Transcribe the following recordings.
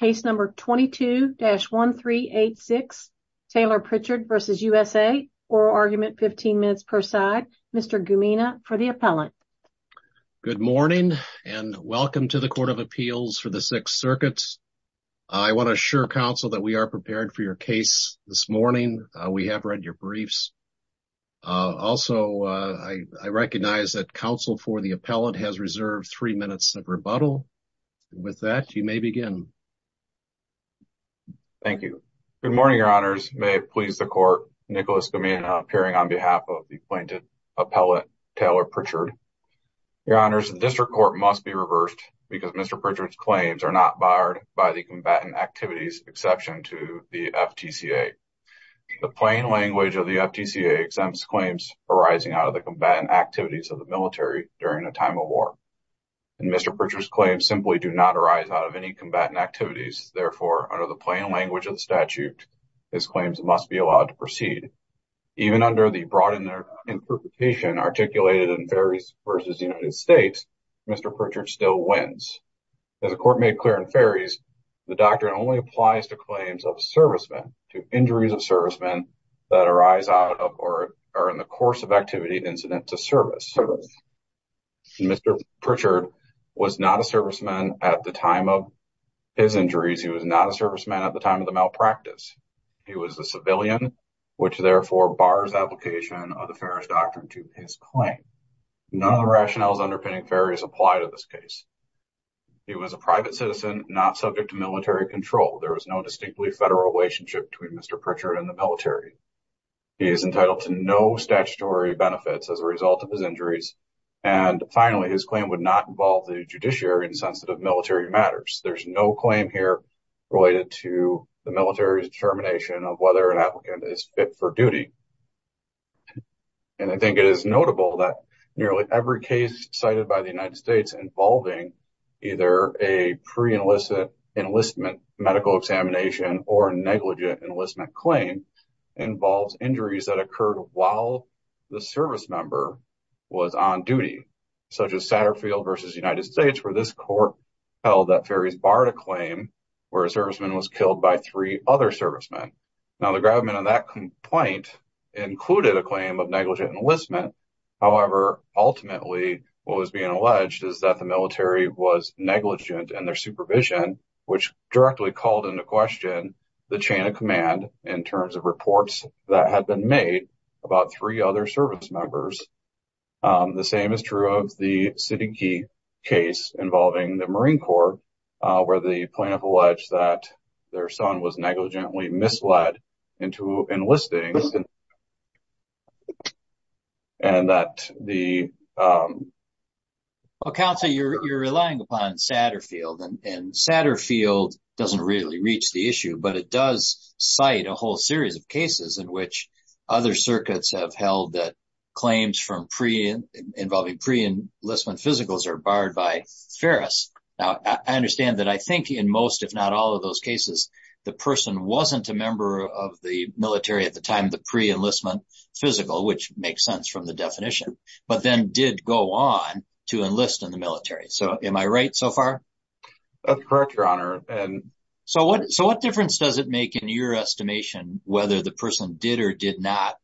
Case number 22-1386 Taylor Pritchard versus USA. Oral argument 15 minutes per side. Mr. Gumina for the appellant. Good morning and welcome to the Court of Appeals for the Sixth Circuit. I want to assure counsel that we are prepared for your case this morning. We have read your briefs. Also I recognize that counsel for the appellant has reserved three minutes of rebuttal. With that you may begin. Thank you. Good morning, Your Honors. May it please the Court, Nicholas Gumina appearing on behalf of the appointed appellant, Taylor Pritchard. Your Honors, the District Court must be reversed because Mr. Pritchard's claims are not barred by the combatant activities exception to the FTCA. The plain language of the FTCA exempts claims arising out of the combatant activities of the combatant in a time of war. And Mr. Pritchard's claims simply do not arise out of any combatant activities. Therefore, under the plain language of the statute, his claims must be allowed to proceed. Even under the broad interpretation articulated in Ferries v. United States, Mr. Pritchard still wins. As the Court made clear in Ferries, the doctrine only applies to claims of servicemen, to injuries of servicemen that arise out of or are in the course of activity incident to service. Mr. Pritchard was not a serviceman at the time of his injuries. He was not a serviceman at the time of the malpractice. He was a civilian, which therefore bars application of the Ferries doctrine to his claim. None of the rationales underpinning Ferries apply to this case. He was a private citizen not subject to military control. There was no distinctly federal relationship between Mr. Pritchard and the military. He is of his injuries. And finally, his claim would not involve the judiciary in sensitive military matters. There's no claim here related to the military's determination of whether an applicant is fit for duty. And I think it is notable that nearly every case cited by the United States involving either a pre-enlistment medical examination or a negligent enlistment claim involves injuries that occurred while the service member was on duty, such as Satterfield versus United States, where this court held that Ferries barred a claim where a serviceman was killed by three other servicemen. Now, the gravamen on that complaint included a claim of negligent enlistment. However, ultimately, what was being alleged is that the military was negligent in their supervision, which directly called into question the chain of command in terms of reports that had been made about three other servicemembers. The same is true of the Siddiqi case involving the Marine Corps, where the plaintiff alleged that their son was negligently misled into enlisting and that the... Well, counsel, you're relying upon Satterfield, and Satterfield doesn't really reach the issue, but it does cite a whole series of cases in which other circuits have held that claims from pre...involving pre-enlistment physicals are barred by Ferris. Now, I understand that I think in most, if not all of those cases, the person wasn't a member of the military at the time, the pre-enlistment physical, which makes sense from the definition, but then did go on to enlist in the military. So am I right so far? That's correct, your honor. And so what, so what difference does it make in your estimation, whether the person did or did not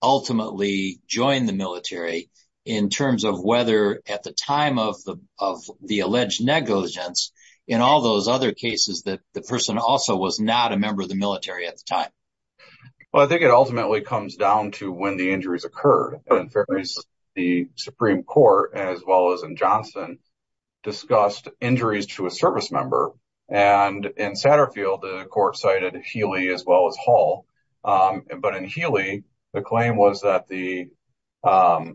ultimately join the military in terms of whether at the time of the, of the alleged negligence in all those other cases that the person also was not a member of the military at the time? Well, I think it ultimately comes down to when the injuries occurred. In Ferris, the Supreme Court, as well as in Johnson, discussed injuries to a service member. And in Satterfield, the court cited Healy as well as Hall. But in Healy, the claim was that the, the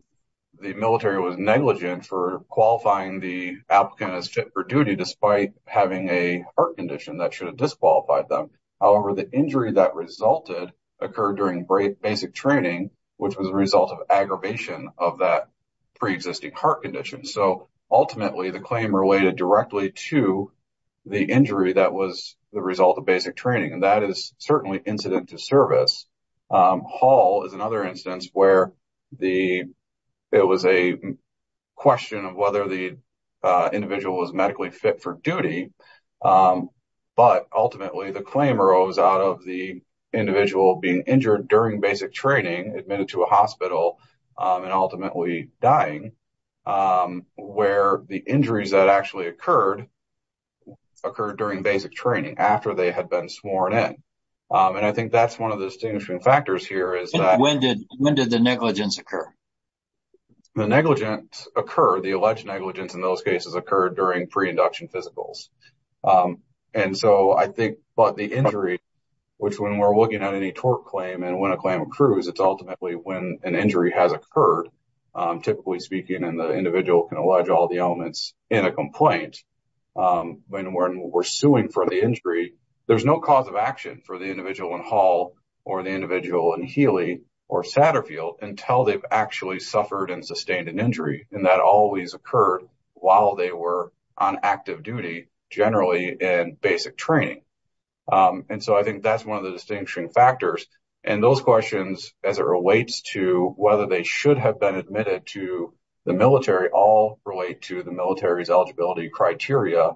military was negligent for qualifying the applicant as fit for duty, despite having a heart condition that should have disqualified them. However, the injury that resulted occurred during basic training, which was a result of aggravation of that pre-existing heart condition. So ultimately, the claim related directly to the injury that was the result of basic training. And that is certainly incident to service. Hall is another instance where the, it was a question of whether the individual was medically fit for duty. But ultimately, the claim arose out of the individual being injured during basic training, admitted to a hospital, and ultimately dying, where the injuries that actually occurred, occurred during basic training after they had been sworn in. And I think that's one of the distinguishing factors here is that... When did, when did the negligence occur? The negligence occurred, the alleged negligence in those cases occurred during pre-induction physicals. And so I think, but the injury, which when we're looking at any tort claim, and when a claim accrues, it's ultimately when an injury has occurred, typically speaking, and the individual can allege all the elements in a complaint. When we're suing for the injury, there's no cause of action for the individual in Hall or the individual in Healy or Satterfield until they've actually suffered and sustained an injury. And that always occurred while they were on active duty, generally in basic training. And so I think that's one of the distinguishing factors. And those questions, as it relates to whether they should have been admitted to the military, all relate to the military's eligibility criteria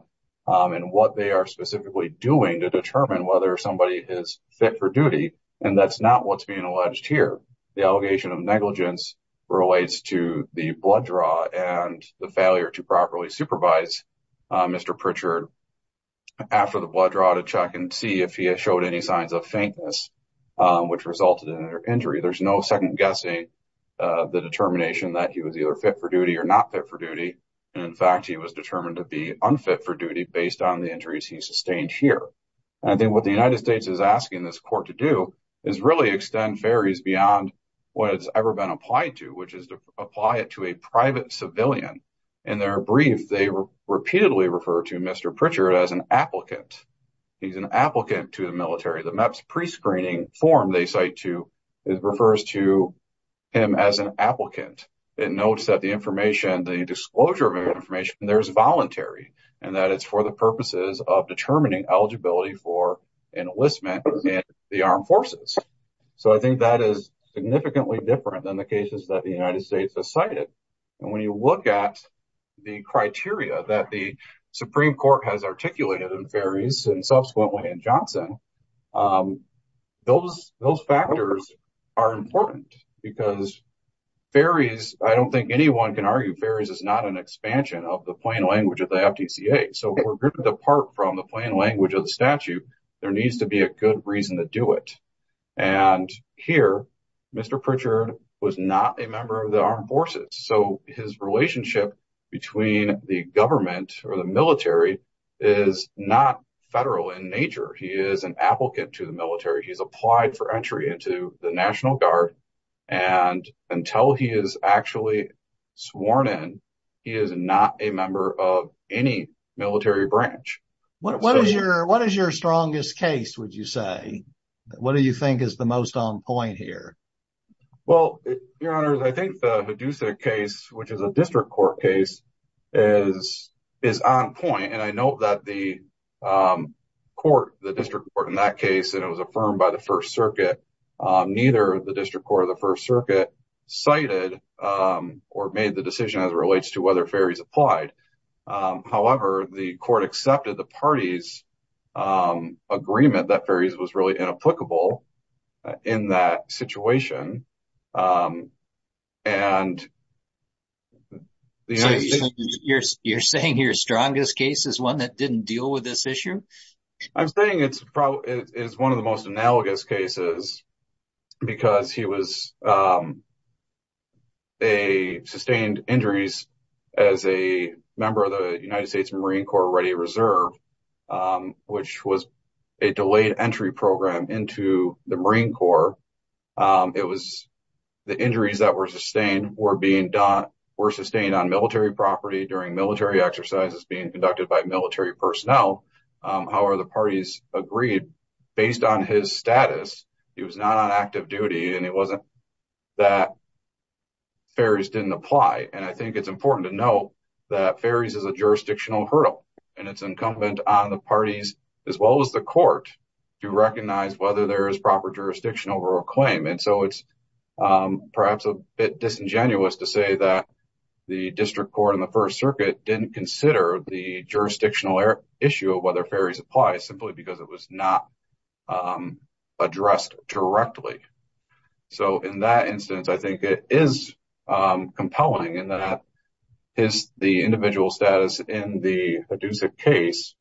and what they are specifically doing to determine whether somebody is fit for duty. And that's not what's being alleged here. The allegation of negligence relates to the blood draw and the failure to properly supervise Mr. Pritchard after the blood draw to check and see if he had showed any signs of faintness, which resulted in their injury. There's no second guessing the determination that he was either fit for duty or not fit for duty. And in fact, he was determined to be unfit for duty based on the injuries he sustained here. And I think what the United States is asking this court to do is really extend fairies beyond what has ever been applied to, which is to apply it to a private civilian. In their brief, they repeatedly refer to Mr. Pritchard as an applicant. He's an applicant to the military. The MEPS prescreening form they cite to it refers to him as an applicant. It notes that the information, the disclosure of information there is voluntary and that it's for the purposes of determining eligibility for enlistment in the armed forces. So I think that is significantly different than the cases that the United States has cited. And when you look at the criteria that the Supreme Court has articulated in fairies and subsequently in Johnson, um, those, those factors are important because fairies, I don't think anyone can argue fairies is not an expansion of the plain language of the F. D. C. A. So we're good to depart from the plain language of the statute. There needs to be a good reason to do it. And here, Mr Pritchard was not a member of the armed forces. So his relationship between the government or the military is not federal in nature. He is an applicant to the military. He's applied for entry into the National Guard. And until he is actually sworn in, he is not a member of any military branch. What is your, what is your strongest case? Would you say? What do you think is the most on point here? Well, your honor, I think the Hadassah case, which is a district court case, is is on point. And I know that the, um, court, the district court in that case, and it was affirmed by the First Circuit. Um, neither the district court of the First Circuit cited, um, or made the decision as it relates to whether fairies applied. Um, however, the court accepted the party's, um, agreement that fairies was really inapplicable in that situation. Um, and you're saying your strongest case is one that didn't deal with this issue. I'm saying it's probably is one of the most analogous cases because he was, um, a sustained injuries as a member of the United States Marine Corps Ready Reserve, um, which was a delayed entry program into the Marine Corps. Um, it was the injuries that were sustained were being done were sustained on military property during military exercises being conducted by military personnel. However, the parties agreed based on his status. He was not on active duty, and it wasn't that fairies didn't apply. And I think it's jurisdictional hurdle, and it's incumbent on the parties as well as the court to recognize whether there is proper jurisdiction over a claim. And so it's, um, perhaps a bit disingenuous to say that the district court in the First Circuit didn't consider the jurisdictional issue of whether fairies apply simply because it was not, um, addressed directly. So in that instance, I think it is, um, compelling in that his the individual status in the Hadousa case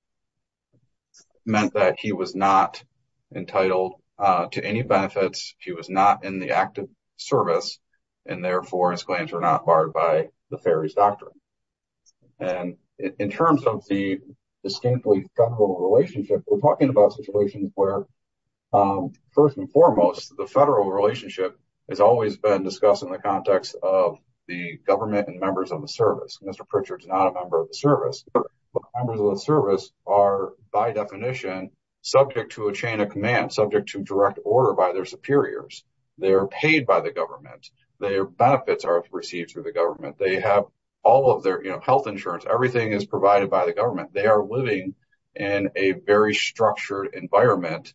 meant that he was not entitled to any benefits. He was not in the active service, and therefore, his claims were not barred by the fairies doctrine. And in terms of the distinctly federal relationship, we're talking about situations where, um, first and foremost, the federal relationship has always been discussed in the context of the government and members of the service. Mr. Pritchard's not a member of the service, but members of the service are, by definition, subject to a chain of command subject to direct order by their superiors. They're paid by the government. Their benefits are received through the government. They have all of their health insurance. Everything is provided by the government. They are living in a very structured environment,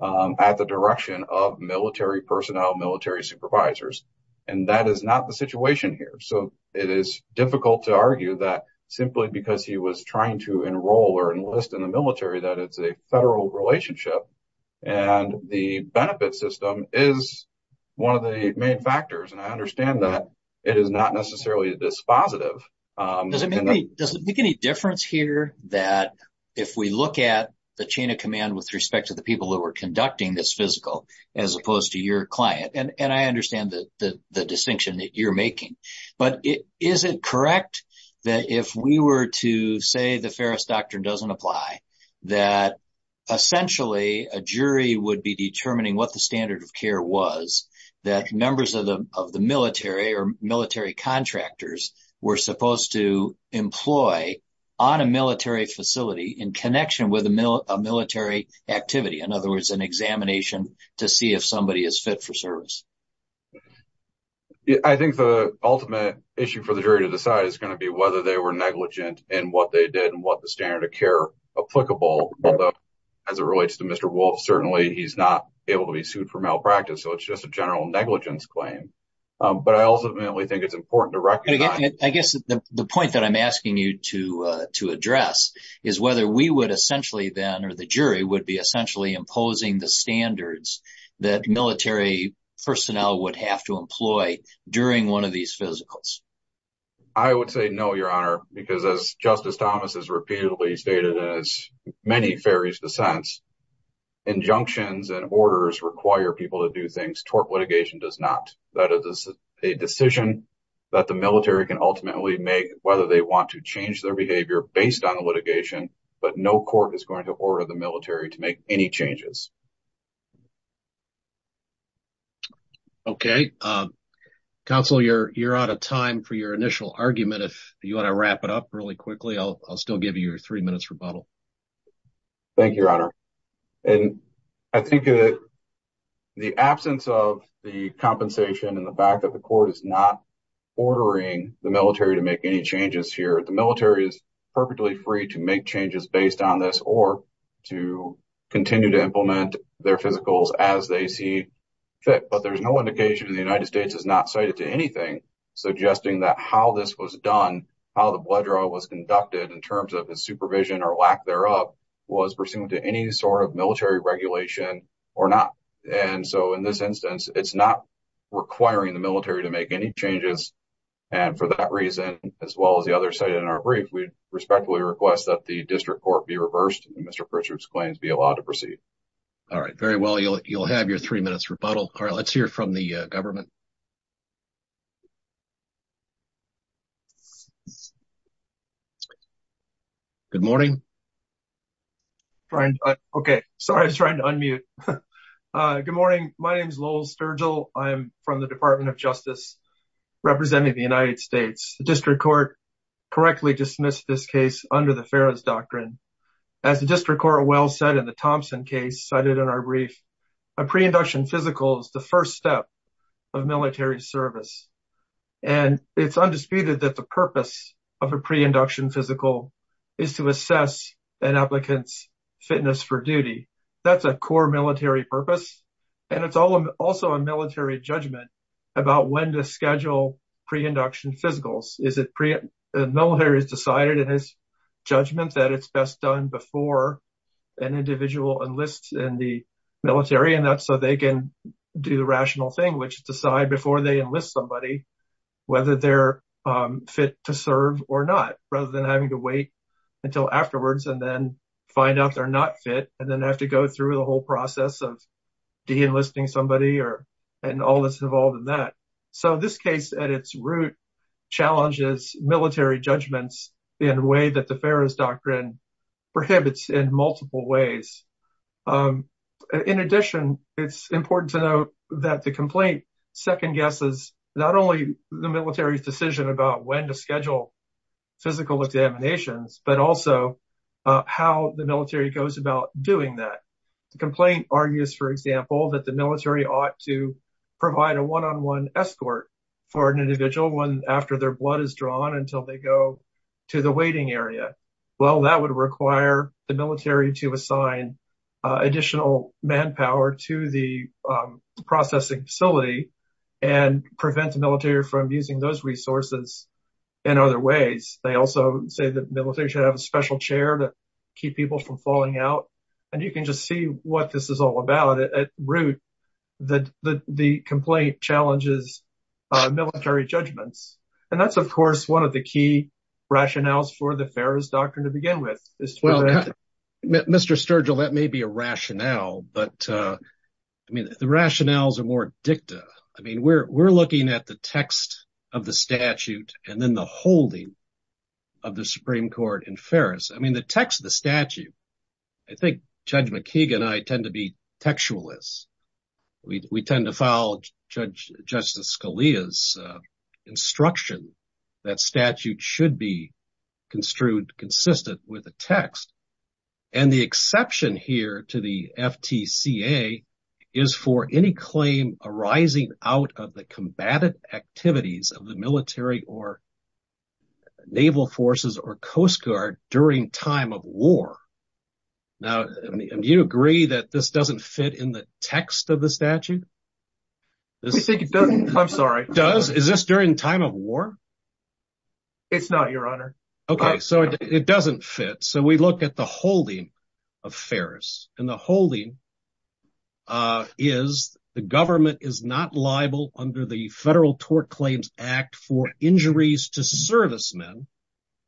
um, at the direction of military personnel, military supervisors. And that is not the situation here. So it is difficult to argue that simply because he was trying to enroll or enlist in the military, that it's a federal relationship and the benefit system is one of the main factors. And I understand that it is not necessarily this positive. Um, does it make any difference here that if we look at the chain of command with respect to the people that were conducting this physical, as opposed to your client, and I understand that the distinction that you're making, but is it correct that if we were to say the Ferris doctrine doesn't apply, that essentially a jury would be determining what the standard of care was, that numbers of the, of the military or military contractors were supposed to employ on a military facility in connection with a military activity. In other words, an examination to see if somebody is fit for service. I think the ultimate issue for the jury to decide is going to be whether they were negligent and what they did and what the standard of care applicable, as it relates to Mr. Wolf. Certainly he's not able to be sued for malpractice. So it's just a general negligence claim. Um, but I ultimately think it's important to recognize, I guess the point that I'm asking you to, uh, to then, or the jury would be essentially imposing the standards that military personnel would have to employ during one of these physicals. I would say no, your honor, because as Justice Thomas has repeatedly stated, as many Ferris dissents, injunctions and orders require people to do things. Tort litigation does not. That is a decision that the military can ultimately make whether they want to change their behavior based on the litigation, but no court is going to order the military to make any changes. Okay. Um, counsel, you're, you're out of time for your initial argument. If you want to wrap it up really quickly, I'll, I'll still give you your three minutes rebuttal. Thank you, your honor. And I think that the absence of the compensation and the fact that the court is not ordering the military to make any changes here at the military is perfectly free to make changes based on this or to continue to implement their physicals as they see fit. But there's no indication in the United States has not cited to anything suggesting that how this was done, how the blood draw was conducted in terms of his supervision or lack thereof was pursuant to any sort of military regulation or not. And so in this instance, it's not requiring the military to make any changes. And for that reason, as well as the other side in our brief, we respectfully request that the district court be reversed and Mr. Pritchard's claims be allowed to proceed. All right, very well. You'll, you'll have your three minutes rebuttal. All right, let's hear from the government. Good morning. Okay. Sorry. I was trying to unmute. Uh, good morning. My name is Lowell Sturgill. I'm from the Department of Justice representing the United States. The district court correctly dismissed this case under the FARA's doctrine. As the district court well said in the Thompson case cited in our brief, a pre-induction physical is the first step of military service. And it's undisputed that the purpose of a pre-induction physical is to assess an applicant's fitness for duty. That's a core military purpose. And it's also a military judgment about when to schedule pre-induction physicals. Is it pre, the military has decided in his judgment that it's best done before an individual enlists in the military and that's so they can do the rational thing, which is decide before they enlist somebody, whether they're fit to serve or not, rather than having to wait until afterwards and then find out they're not fit and then have to go through the whole process of de-enlisting somebody or, and all that's involved in that. So this case at its root challenges military judgments in a way that the FARA's doctrine prohibits in multiple ways. In addition, it's important to note that the complaint second guesses, not only the military's decision about when to schedule physical examinations, but also how the military goes about doing that. The complaint argues, for example, that the military ought to provide a one-on-one escort for an individual after their blood is drawn until they go to the waiting area. Well, that would require the military to assign additional manpower to the processing facility and prevent the military from using those resources in other ways. They also say the military should have a special chair to keep people from falling out. And you can just see what this is all about at root, that the complaint challenges military judgments. And that's, of course, one of the key rationales for the FARA's doctrine to begin with. Well, Mr. Sturgill, that may be a rationale, but I mean, the rationales are more dicta. I mean, we're looking at the text of the statute and then the holding of the Supreme Court in FARA's. I mean, the text of the statute, I think Judge McKeegan and I tend to be textualists. We tend to follow Justice Scalia's instruction that statute should be construed consistent with the text. And the exception here to the FTCA is for any claim arising out of the combative activities of the military or naval forces or Coast Guard during time of war. Now, do you agree that this doesn't fit in the text of the statute? I'm sorry. Does? Is this during time of war? It's not, Your Honor. OK, so it doesn't fit. So we look at the holding of FARA's and the holding is the government is not liable under the Federal Tort Claims Act for injuries to servicemen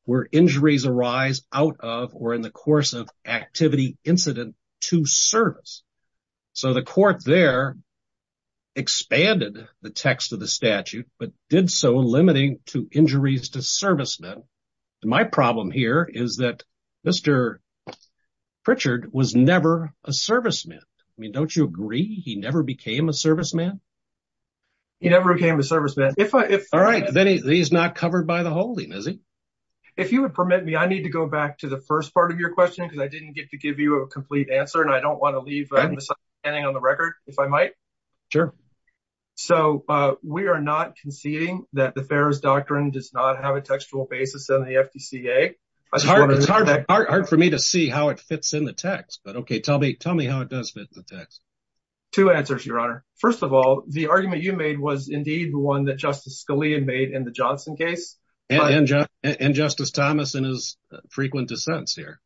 where injuries arise out of or in the course of activity incident to service. So the court there expanded the text of the statute, but did so limiting to my problem here is that Mr. Pritchard was never a serviceman. I mean, don't you agree he never became a serviceman? He never became a serviceman. All right, then he's not covered by the holding, is he? If you would permit me, I need to go back to the first part of your question because I didn't get to give you a complete answer, and I don't want to leave anything on the record, if I might. Sure. So we are not conceding that the FARA's doctrine does not have a textual basis in the FDCA, I just wanted to make that clear. It's hard for me to see how it fits in the text, but okay, tell me how it does fit the text. Two answers, Your Honor. First of all, the argument you made was indeed the one that Justice Scalia made in the Johnson case. And Justice Thomas in his frequent dissents here.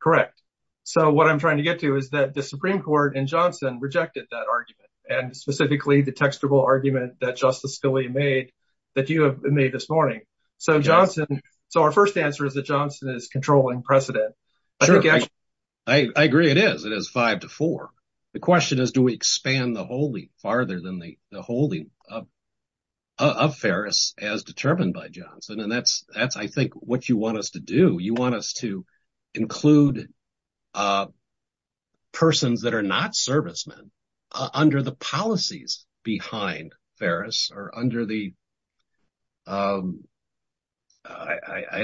Correct. So what I'm trying to get to is that the Supreme Court in Johnson rejected that argument and specifically the textual argument that Justice Scalia made that you have made this morning. So Johnson, so our first answer is that Johnson is controlling precedent. I agree it is. It is five to four. The question is, do we expand the holding farther than the holding of Ferris as determined by Johnson? And that's, I think, what you want us to do. You want us to include persons that are not servicemen under the policies behind Ferris or under the, I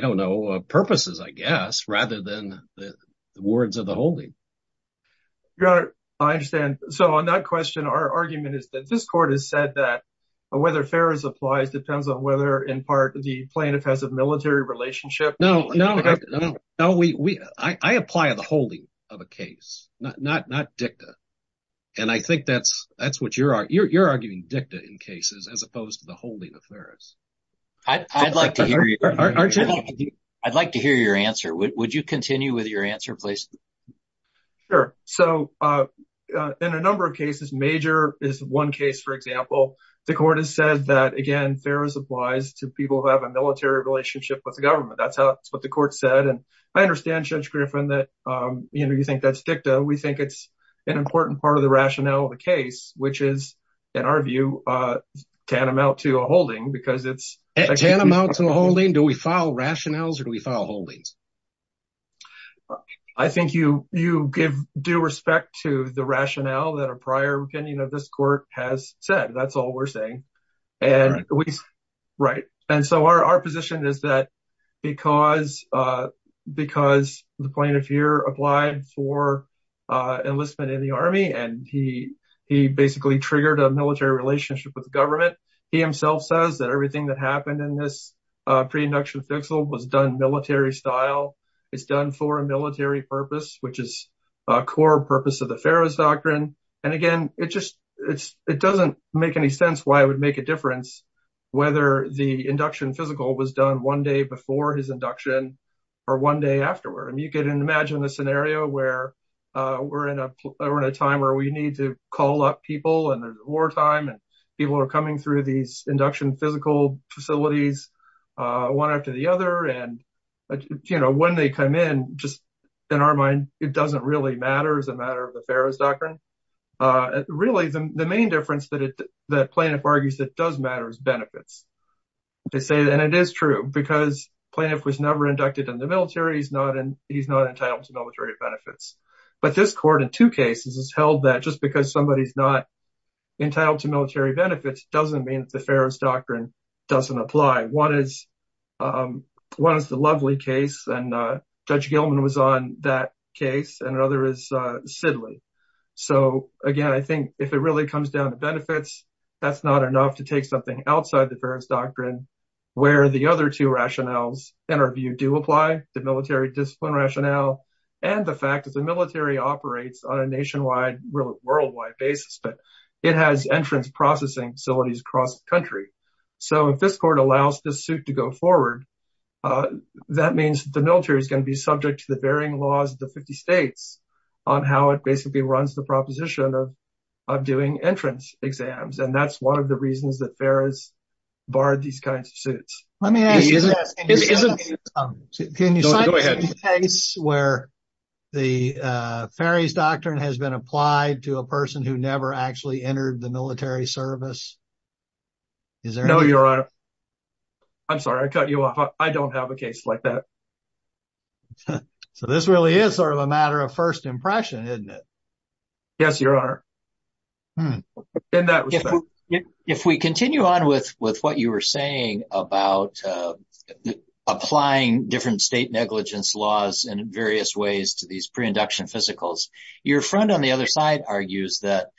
don't know, purposes, I guess, rather than the words of the holding. Your Honor, I understand. So on that question, our argument is that this court has said that whether Ferris applies depends on whether, in part, the plaintiff has a military relationship. No, no, I apply the holding of a case, not dicta. And I think that's what you're arguing, dicta in cases, as opposed to the holding of Ferris. I'd like to hear your answer. Would you continue with your answer, please? Sure. So in a number of cases, Major is one case, for example, the court has said that, again, Ferris applies to people who have a military relationship with the government. That's what the court said. And I understand, Judge Griffin, that you think that's dicta. We think it's an important part of the rationale of the case, which is, in our view, tantamount to a holding because it's- Tantamount to a holding? Do we file rationales or do we file holdings? I think you give due respect to the rationale that a prior opinion of this court has said, that's all we're saying. And so our position is that because the plaintiff here applied for enlistment in the army and he basically triggered a military relationship with the government, he himself says that everything that happened in this pre-induction fixal was done military style. It's done for a military purpose, which is a core purpose of the Ferris doctrine. And again, it just, it doesn't make any sense why it would make a difference whether the induction physical was done one day before his induction or one day afterward. You can imagine a scenario where we're in a time where we need to call up people and there's wartime and people are coming through these induction physical facilities one after the other. And, you know, when they come in, just in our mind, it doesn't really matter as a matter of the Ferris doctrine. Really the main difference that the plaintiff argues that does matter is benefits, they say, and it is true because plaintiff was never inducted in the military, he's not entitled to military benefits, but this court in two cases has held that just because somebody's not entitled to military benefits doesn't mean that the Ferris doctrine doesn't apply. One is the Lovely case and Judge Gilman was on that case and another is Sidley. So again, I think if it really comes down to benefits, that's not enough to take something outside the Ferris doctrine where the other two rationales in our the military discipline rationale and the fact that the military operates on a nationwide, worldwide basis, but it has entrance processing facilities across the country. So if this court allows this suit to go forward, that means the military is going to be subject to the varying laws of the 50 states on how it basically runs the proposition of doing entrance exams. And that's one of the reasons that Ferris barred these kinds of suits. Let me ask you this, can you cite a case where the Ferris doctrine has been applied to a person who never actually entered the military service? No, Your Honor. I'm sorry, I cut you off, I don't have a case like that. So this really is sort of a matter of first impression, isn't it? Yes, Your Honor. Hmm. If we continue on with what you were saying about applying different state negligence laws in various ways to these pre-induction physicals, your friend on the other side argues that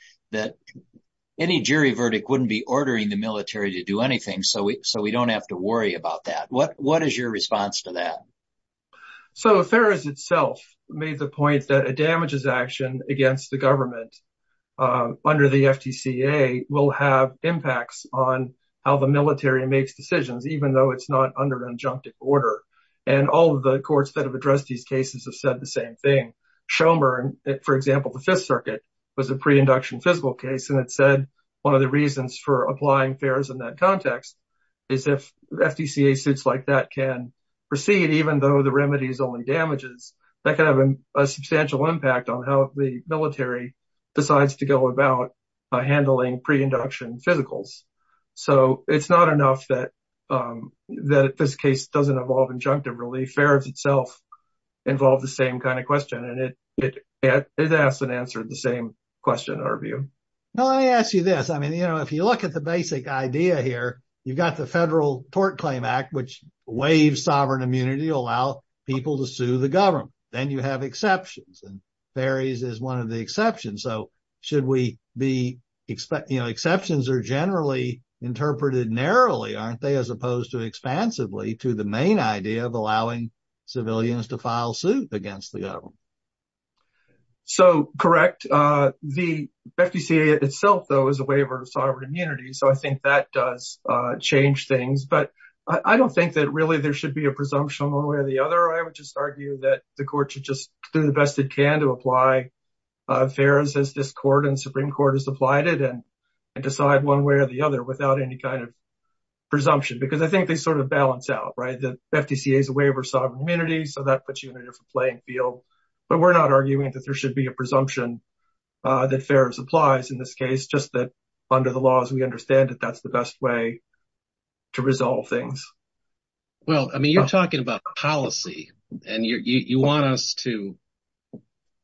any jury verdict wouldn't be ordering the military to do anything, so we don't have to worry about that. What is your response to that? So Ferris itself made the point that a damages action against the government under the FTCA will have impacts on how the military makes decisions, even though it's not under an injunctive order, and all of the courts that have addressed these cases have said the same thing. Shomer, for example, the Fifth Circuit was a pre-induction physical case, and it said one of the reasons for applying Ferris in that context is if FTCA suits like that can proceed, even though the remedy is only damages, that can have a negative impact on how the military makes decisions, even though it's not under an injunctive order, and so it's not enough that this case doesn't involve injunctive relief. Ferris itself involved the same kind of question, and it asked and answered the same question, in our view. Now, let me ask you this. I mean, you know, if you look at the basic idea here, you've got the Federal Tort Claim Act, which waives sovereign immunity to allow people to sue the exception, so should we be, you know, exceptions are generally interpreted narrowly, aren't they, as opposed to expansively to the main idea of allowing civilians to file suit against the government? So, correct. The FTCA itself, though, is a waiver of sovereign immunity, so I think that does change things, but I don't think that really there should be a presumption one way or the other. I would just argue that the court should just do the best it can to apply Ferris, as this court and Supreme Court has applied it, and decide one way or the other without any kind of presumption, because I think they sort of balance out, right? The FTCA is a waiver of sovereign immunity, so that puts you in a different playing field, but we're not arguing that there should be a presumption that Ferris applies in this case, just that under the laws, we understand that that's the best way to resolve things. Well, I mean, you're talking about policy, and you want us to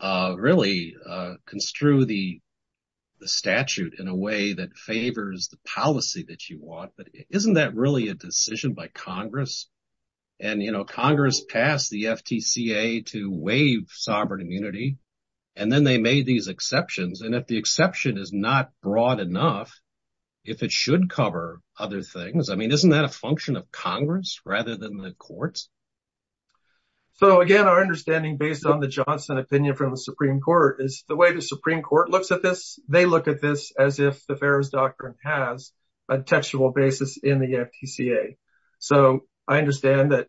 really construe the statute in a way that favors the policy that you want, but isn't that really a decision by Congress? And, you know, Congress passed the FTCA to waive sovereign immunity, and then they made these exceptions, and if the exception is not broad enough, if it should cover other things, I mean, isn't that a function of Congress rather than the courts? So, again, our understanding, based on the Johnson opinion from the Supreme Court, is the way the Supreme Court looks at this, they look at this as if the Ferris doctrine has a textual basis in the FTCA. So I understand that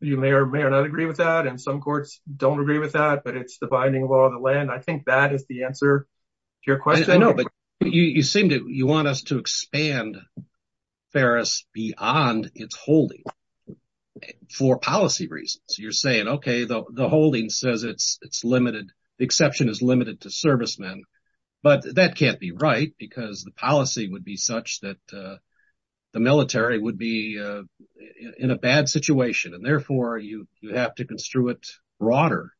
you may or may not agree with that, and some courts don't agree with that, but it's the binding law of the land. I think that is the answer to your question. I know, but you seem to, you want us to expand Ferris beyond its holding for policy reasons. You're saying, OK, the holding says it's limited, the exception is limited to servicemen, but that can't be right because the policy would be such that the military would be in a bad situation, and therefore you have to construe it broader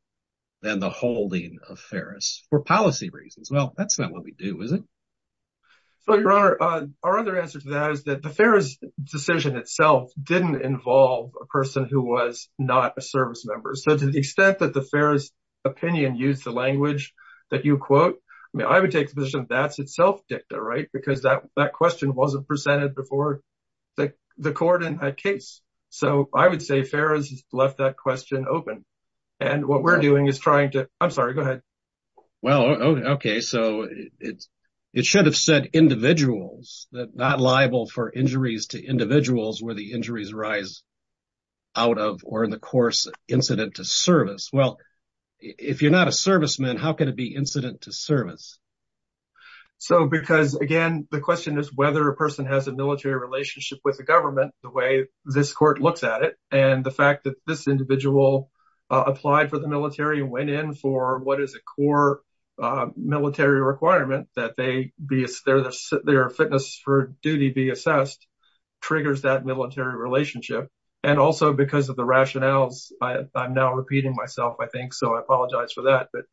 than the holding of Ferris for policy reasons. Well, that's not what we do, is it? So, Your Honor, our other answer to that is that the Ferris decision itself didn't involve a person who was not a servicemember. So to the extent that the Ferris opinion used the language that you quote, I mean, I would take the position that's itself dicta, right? Because that question wasn't presented before the court in that case. So I would say Ferris left that question open. And what we're doing is trying to, I'm sorry, go ahead. Well, OK, so it's it should have said individuals that not liable for injuries to individuals where the injuries rise out of or in the course incident to service. Well, if you're not a serviceman, how can it be incident to service? So because, again, the question is whether a person has a military relationship with the government, the way this court looks at it and the fact that this individual applied for the military and went in for what is a core military requirement that they be, their fitness for duty be assessed, triggers that military relationship. And also because of the rationales, I'm now repeating myself, I think. So I apologize for that. But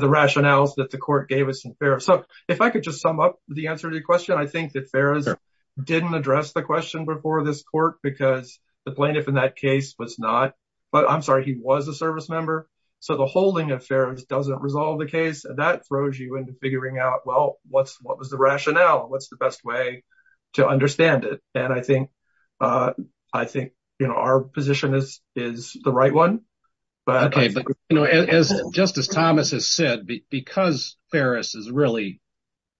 the rationales that the court gave us in Ferris. So if I could just sum up the answer to your question, I think that Ferris didn't address the question before this court because the plaintiff in that case was not. But I'm sorry, he was a service member. So the holding of Ferris doesn't resolve the case. And that throws you into figuring out, well, what's what was the rationale? What's the best way to understand it? And I think I think our position is is the right one. But OK, but as Justice Thomas has said, because Ferris is really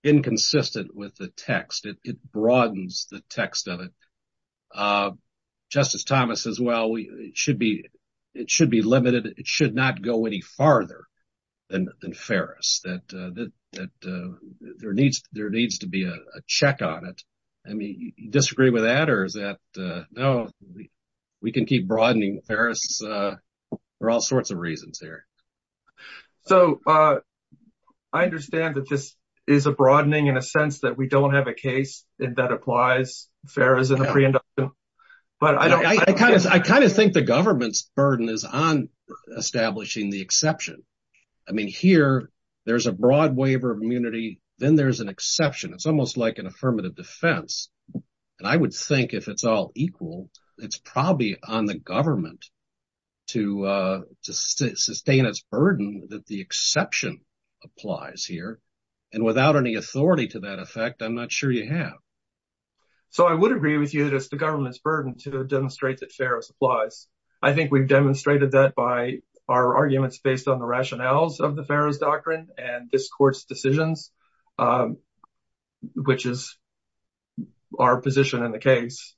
inconsistent with the text, it broadens the text of it. Justice Thomas as well, we should be it should be limited. It should not go any farther than than Ferris that that there needs there needs to be a check on it. I mean, you disagree with that or is that no, we can keep broadening Ferris for all sorts of reasons here. So I understand that this is a broadening in a sense that we don't have a case that applies. Ferris in the pre-indictment, but I don't I kind of I kind of think the government's burden is on establishing the exception. I mean, here there's a broad waiver of immunity. Then there's an exception. It's almost like an affirmative defense. And I would think if it's all equal, it's probably on the government to sustain its burden that the exception applies here. And without any authority to that effect, I'm not sure you have. So I would agree with you that it's the government's burden to demonstrate that Ferris applies. I think we've demonstrated that by our arguments based on the rationales of the Ferris doctrine and this court's decisions, which is our position in the case.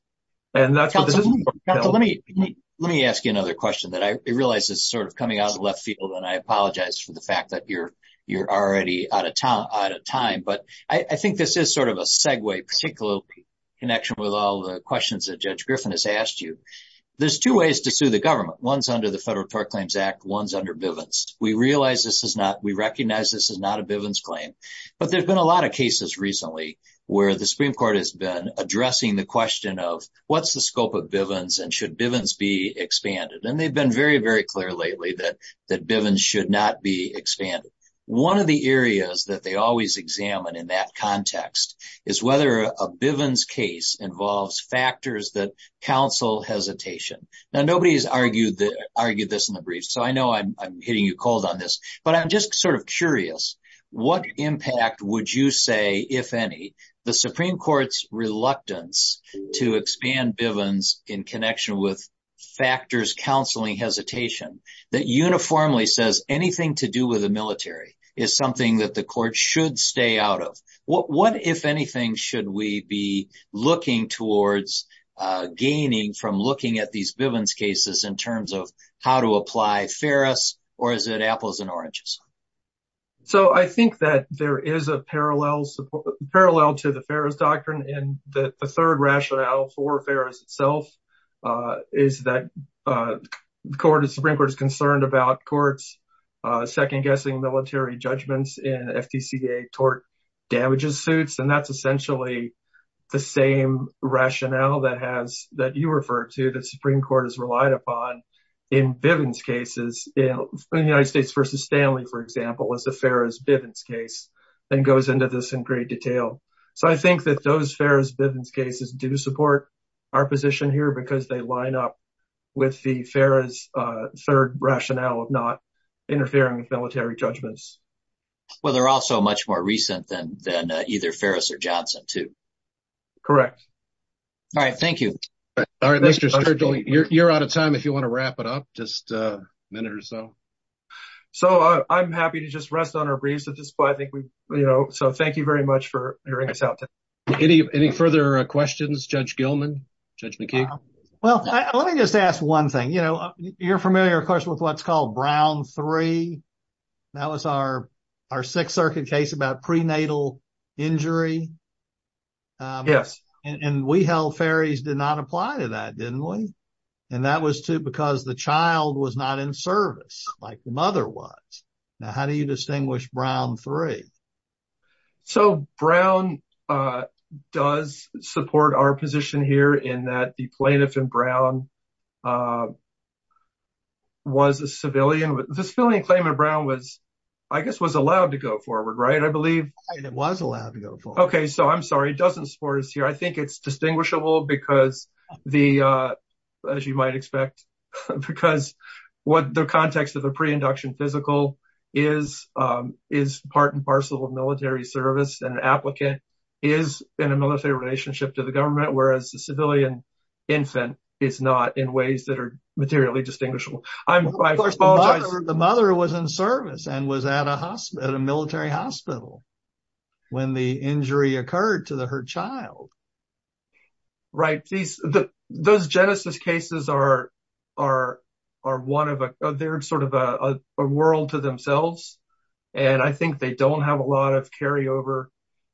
And that's what this is. Let me let me ask you another question that I realize is sort of coming out of left field. And I apologize for the fact that you're you're already out of town at a time. But I think this is sort of a segue particular connection with all the questions that Judge Griffin has asked you. There's two ways to sue the government. One's under the Federal Tort Claims Act. One's under Bivens. We realize this is not we recognize this is not a Bivens claim. But there's been a lot of cases recently where the Supreme Court has been addressing the question of what's the scope of Bivens and should Bivens be expanded? And they've been very, very clear lately that that Bivens should not be expanded. One of the areas that they always examine in that context is whether a Bivens case involves factors that counsel hesitation. Now, nobody has argued that argued this in the brief. So I know I'm hitting you cold on this, but I'm just sort of curious, what impact would you say, if any, the Supreme Court's reluctance to expand Bivens in connection with the military is something that the court should stay out of? What, if anything, should we be looking towards gaining from looking at these Bivens cases in terms of how to apply Ferris or is it apples and oranges? So I think that there is a parallel to the Ferris doctrine. And the third rationale for Ferris itself is that the Supreme Court is concerned about courts second guessing military judgments in FTCA tort damages suits. And that's essentially the same rationale that has that you refer to that Supreme Court has relied upon in Bivens cases in the United States versus Stanley, for example, as the Ferris Bivens case and goes into this in great detail. So I think that those Ferris Bivens cases do support our position here because they are not interfering with military judgments. Well, they're also much more recent than either Ferris or Johnson, too. Correct. All right. Thank you. All right. Mr. Sturgill, you're out of time. If you want to wrap it up, just a minute or so. So I'm happy to just rest on our breeze at this point. I think we, you know, so thank you very much for hearing us out. Any further questions, Judge Gilman? Judge McKee? Well, let me just ask one thing. You know, you're familiar, of course, with what's called Brown III. That was our our Sixth Circuit case about prenatal injury. Yes. And we held Ferris did not apply to that, didn't we? And that was too, because the child was not in service like the mother was. Now, how do you distinguish Brown III? So Brown does support our position here in that the plaintiff in Brown was a civilian. The civilian claimant Brown was, I guess, was allowed to go forward. Right. I believe it was allowed to go forward. OK, so I'm sorry. It doesn't support us here. I think it's distinguishable because the as you might expect, because what the context of the preinduction physical is, is part and parcel of military service. An applicant is in a military relationship to the government, whereas the civilian infant is not in ways that are materially distinguishable. I'm the mother who was in service and was at a hospital, at a military hospital when the injury occurred to the her child. Right. These those Genesis cases are are are one of a they're sort of a world to themselves. And I think they don't have a lot of carry over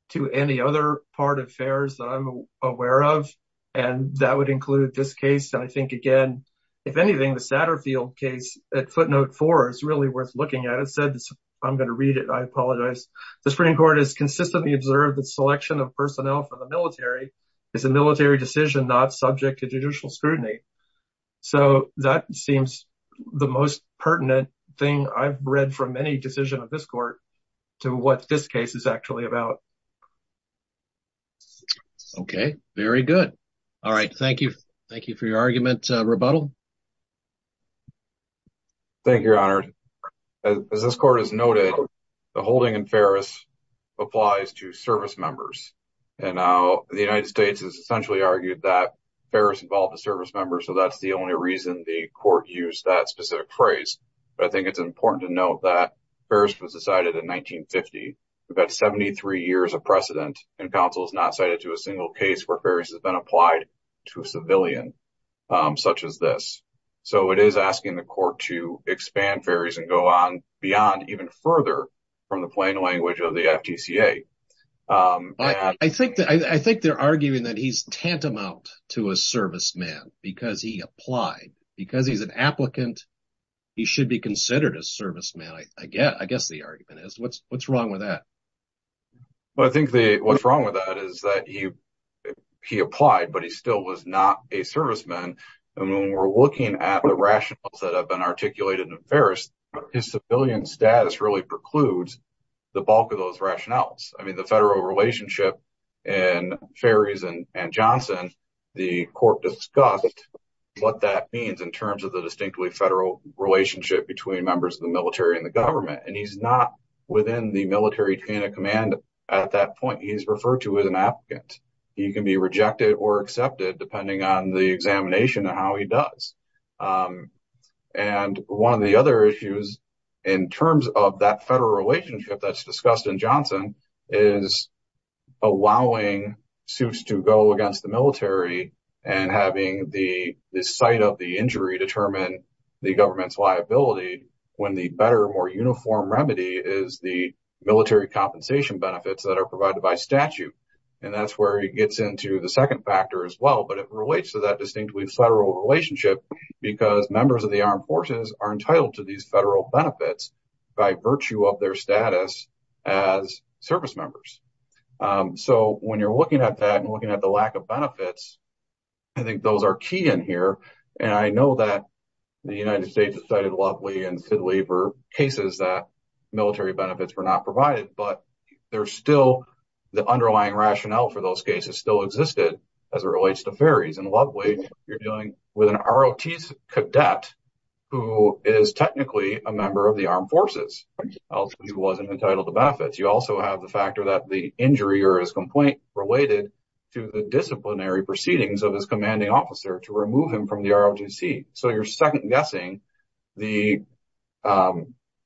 to any other part of affairs that I'm aware of. And that would include this case. And I think, again, if anything, the Satterfield case at footnote four is really worth looking at. It said this. I'm going to read it. I apologize. The Supreme Court has consistently observed that selection of personnel from the military is a military decision not subject to judicial scrutiny. So that seems the most pertinent thing I've read from any decision of this court to what this case is actually about. OK, very good. All right. Thank you. Thank you for your argument. Rebuttal. Thank you, Your Honor. As this court has noted, the holding in Ferris applies to service members. And the United States has essentially argued that Ferris involved a service member. So that's the only reason the court used that specific phrase. But I think it's important to note that Ferris was decided in 1950. We've got 73 years of precedent and counsel is not cited to a single case where Ferris has been applied to a civilian such as this. So it is asking the court to expand Ferris and go on beyond even further from the plain language of the FTCA. But I think that I think they're arguing that he's tantamount to a serviceman because he applied because he's an applicant. He should be considered a serviceman. I guess I guess the argument is what's what's wrong with that? Well, I think what's wrong with that is that he he applied, but he still was not a serviceman. And when we're looking at the rationales that have been articulated in Ferris, his civilian status really precludes the bulk of those rationales. I mean, the federal relationship and Ferris and Johnson, the court discussed what that means in terms of the distinctly federal relationship between members of the military and the government. And he's not within the military chain of command at that point. He's referred to as an applicant. He can be rejected or accepted depending on the examination of how he does. And one of the other issues in terms of that federal relationship that's discussed in Johnson is allowing suits to go against the military and having the sight of the injury determine the government's liability when the better, more uniform remedy is the military compensation benefits that are provided by statute. And that's where he gets into the second factor as well. But it relates to that distinctly federal relationship because members of the armed forces are entitled to these federal benefits by virtue of their status as servicemembers. So when you're looking at that and looking at the lack of benefits, I think those are key in here. And I know that the United States has cited Lovely and Sidley for cases that military benefits were not provided, but there's still the underlying rationale for those cases still existed as it relates to Ferris. And Lovely, you're dealing with an ROT cadet who is technically a member of the armed forces. Also, he wasn't entitled to benefits. You also have the factor that the injury or his complaint related to the disciplinary proceedings of his commanding officer to remove him from the ROTC. So you're second guessing the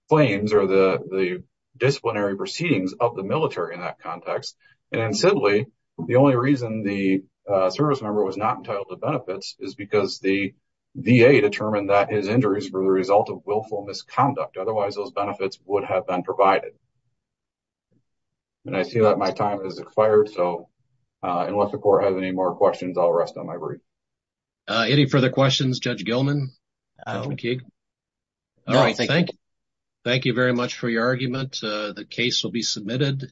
claims or the the disciplinary proceedings of the military in that context. And then sadly, the only reason the servicemember was not entitled to benefits is because the VA determined that his injuries were the result of willful misconduct. Otherwise, those benefits would have been provided. And I see that my time has expired. So unless the court has any more questions, I'll rest on my word. Any further questions, Judge Gilman? Judge McKeague? All right. Thank you. Thank you very much for your argument. The case will be submitted.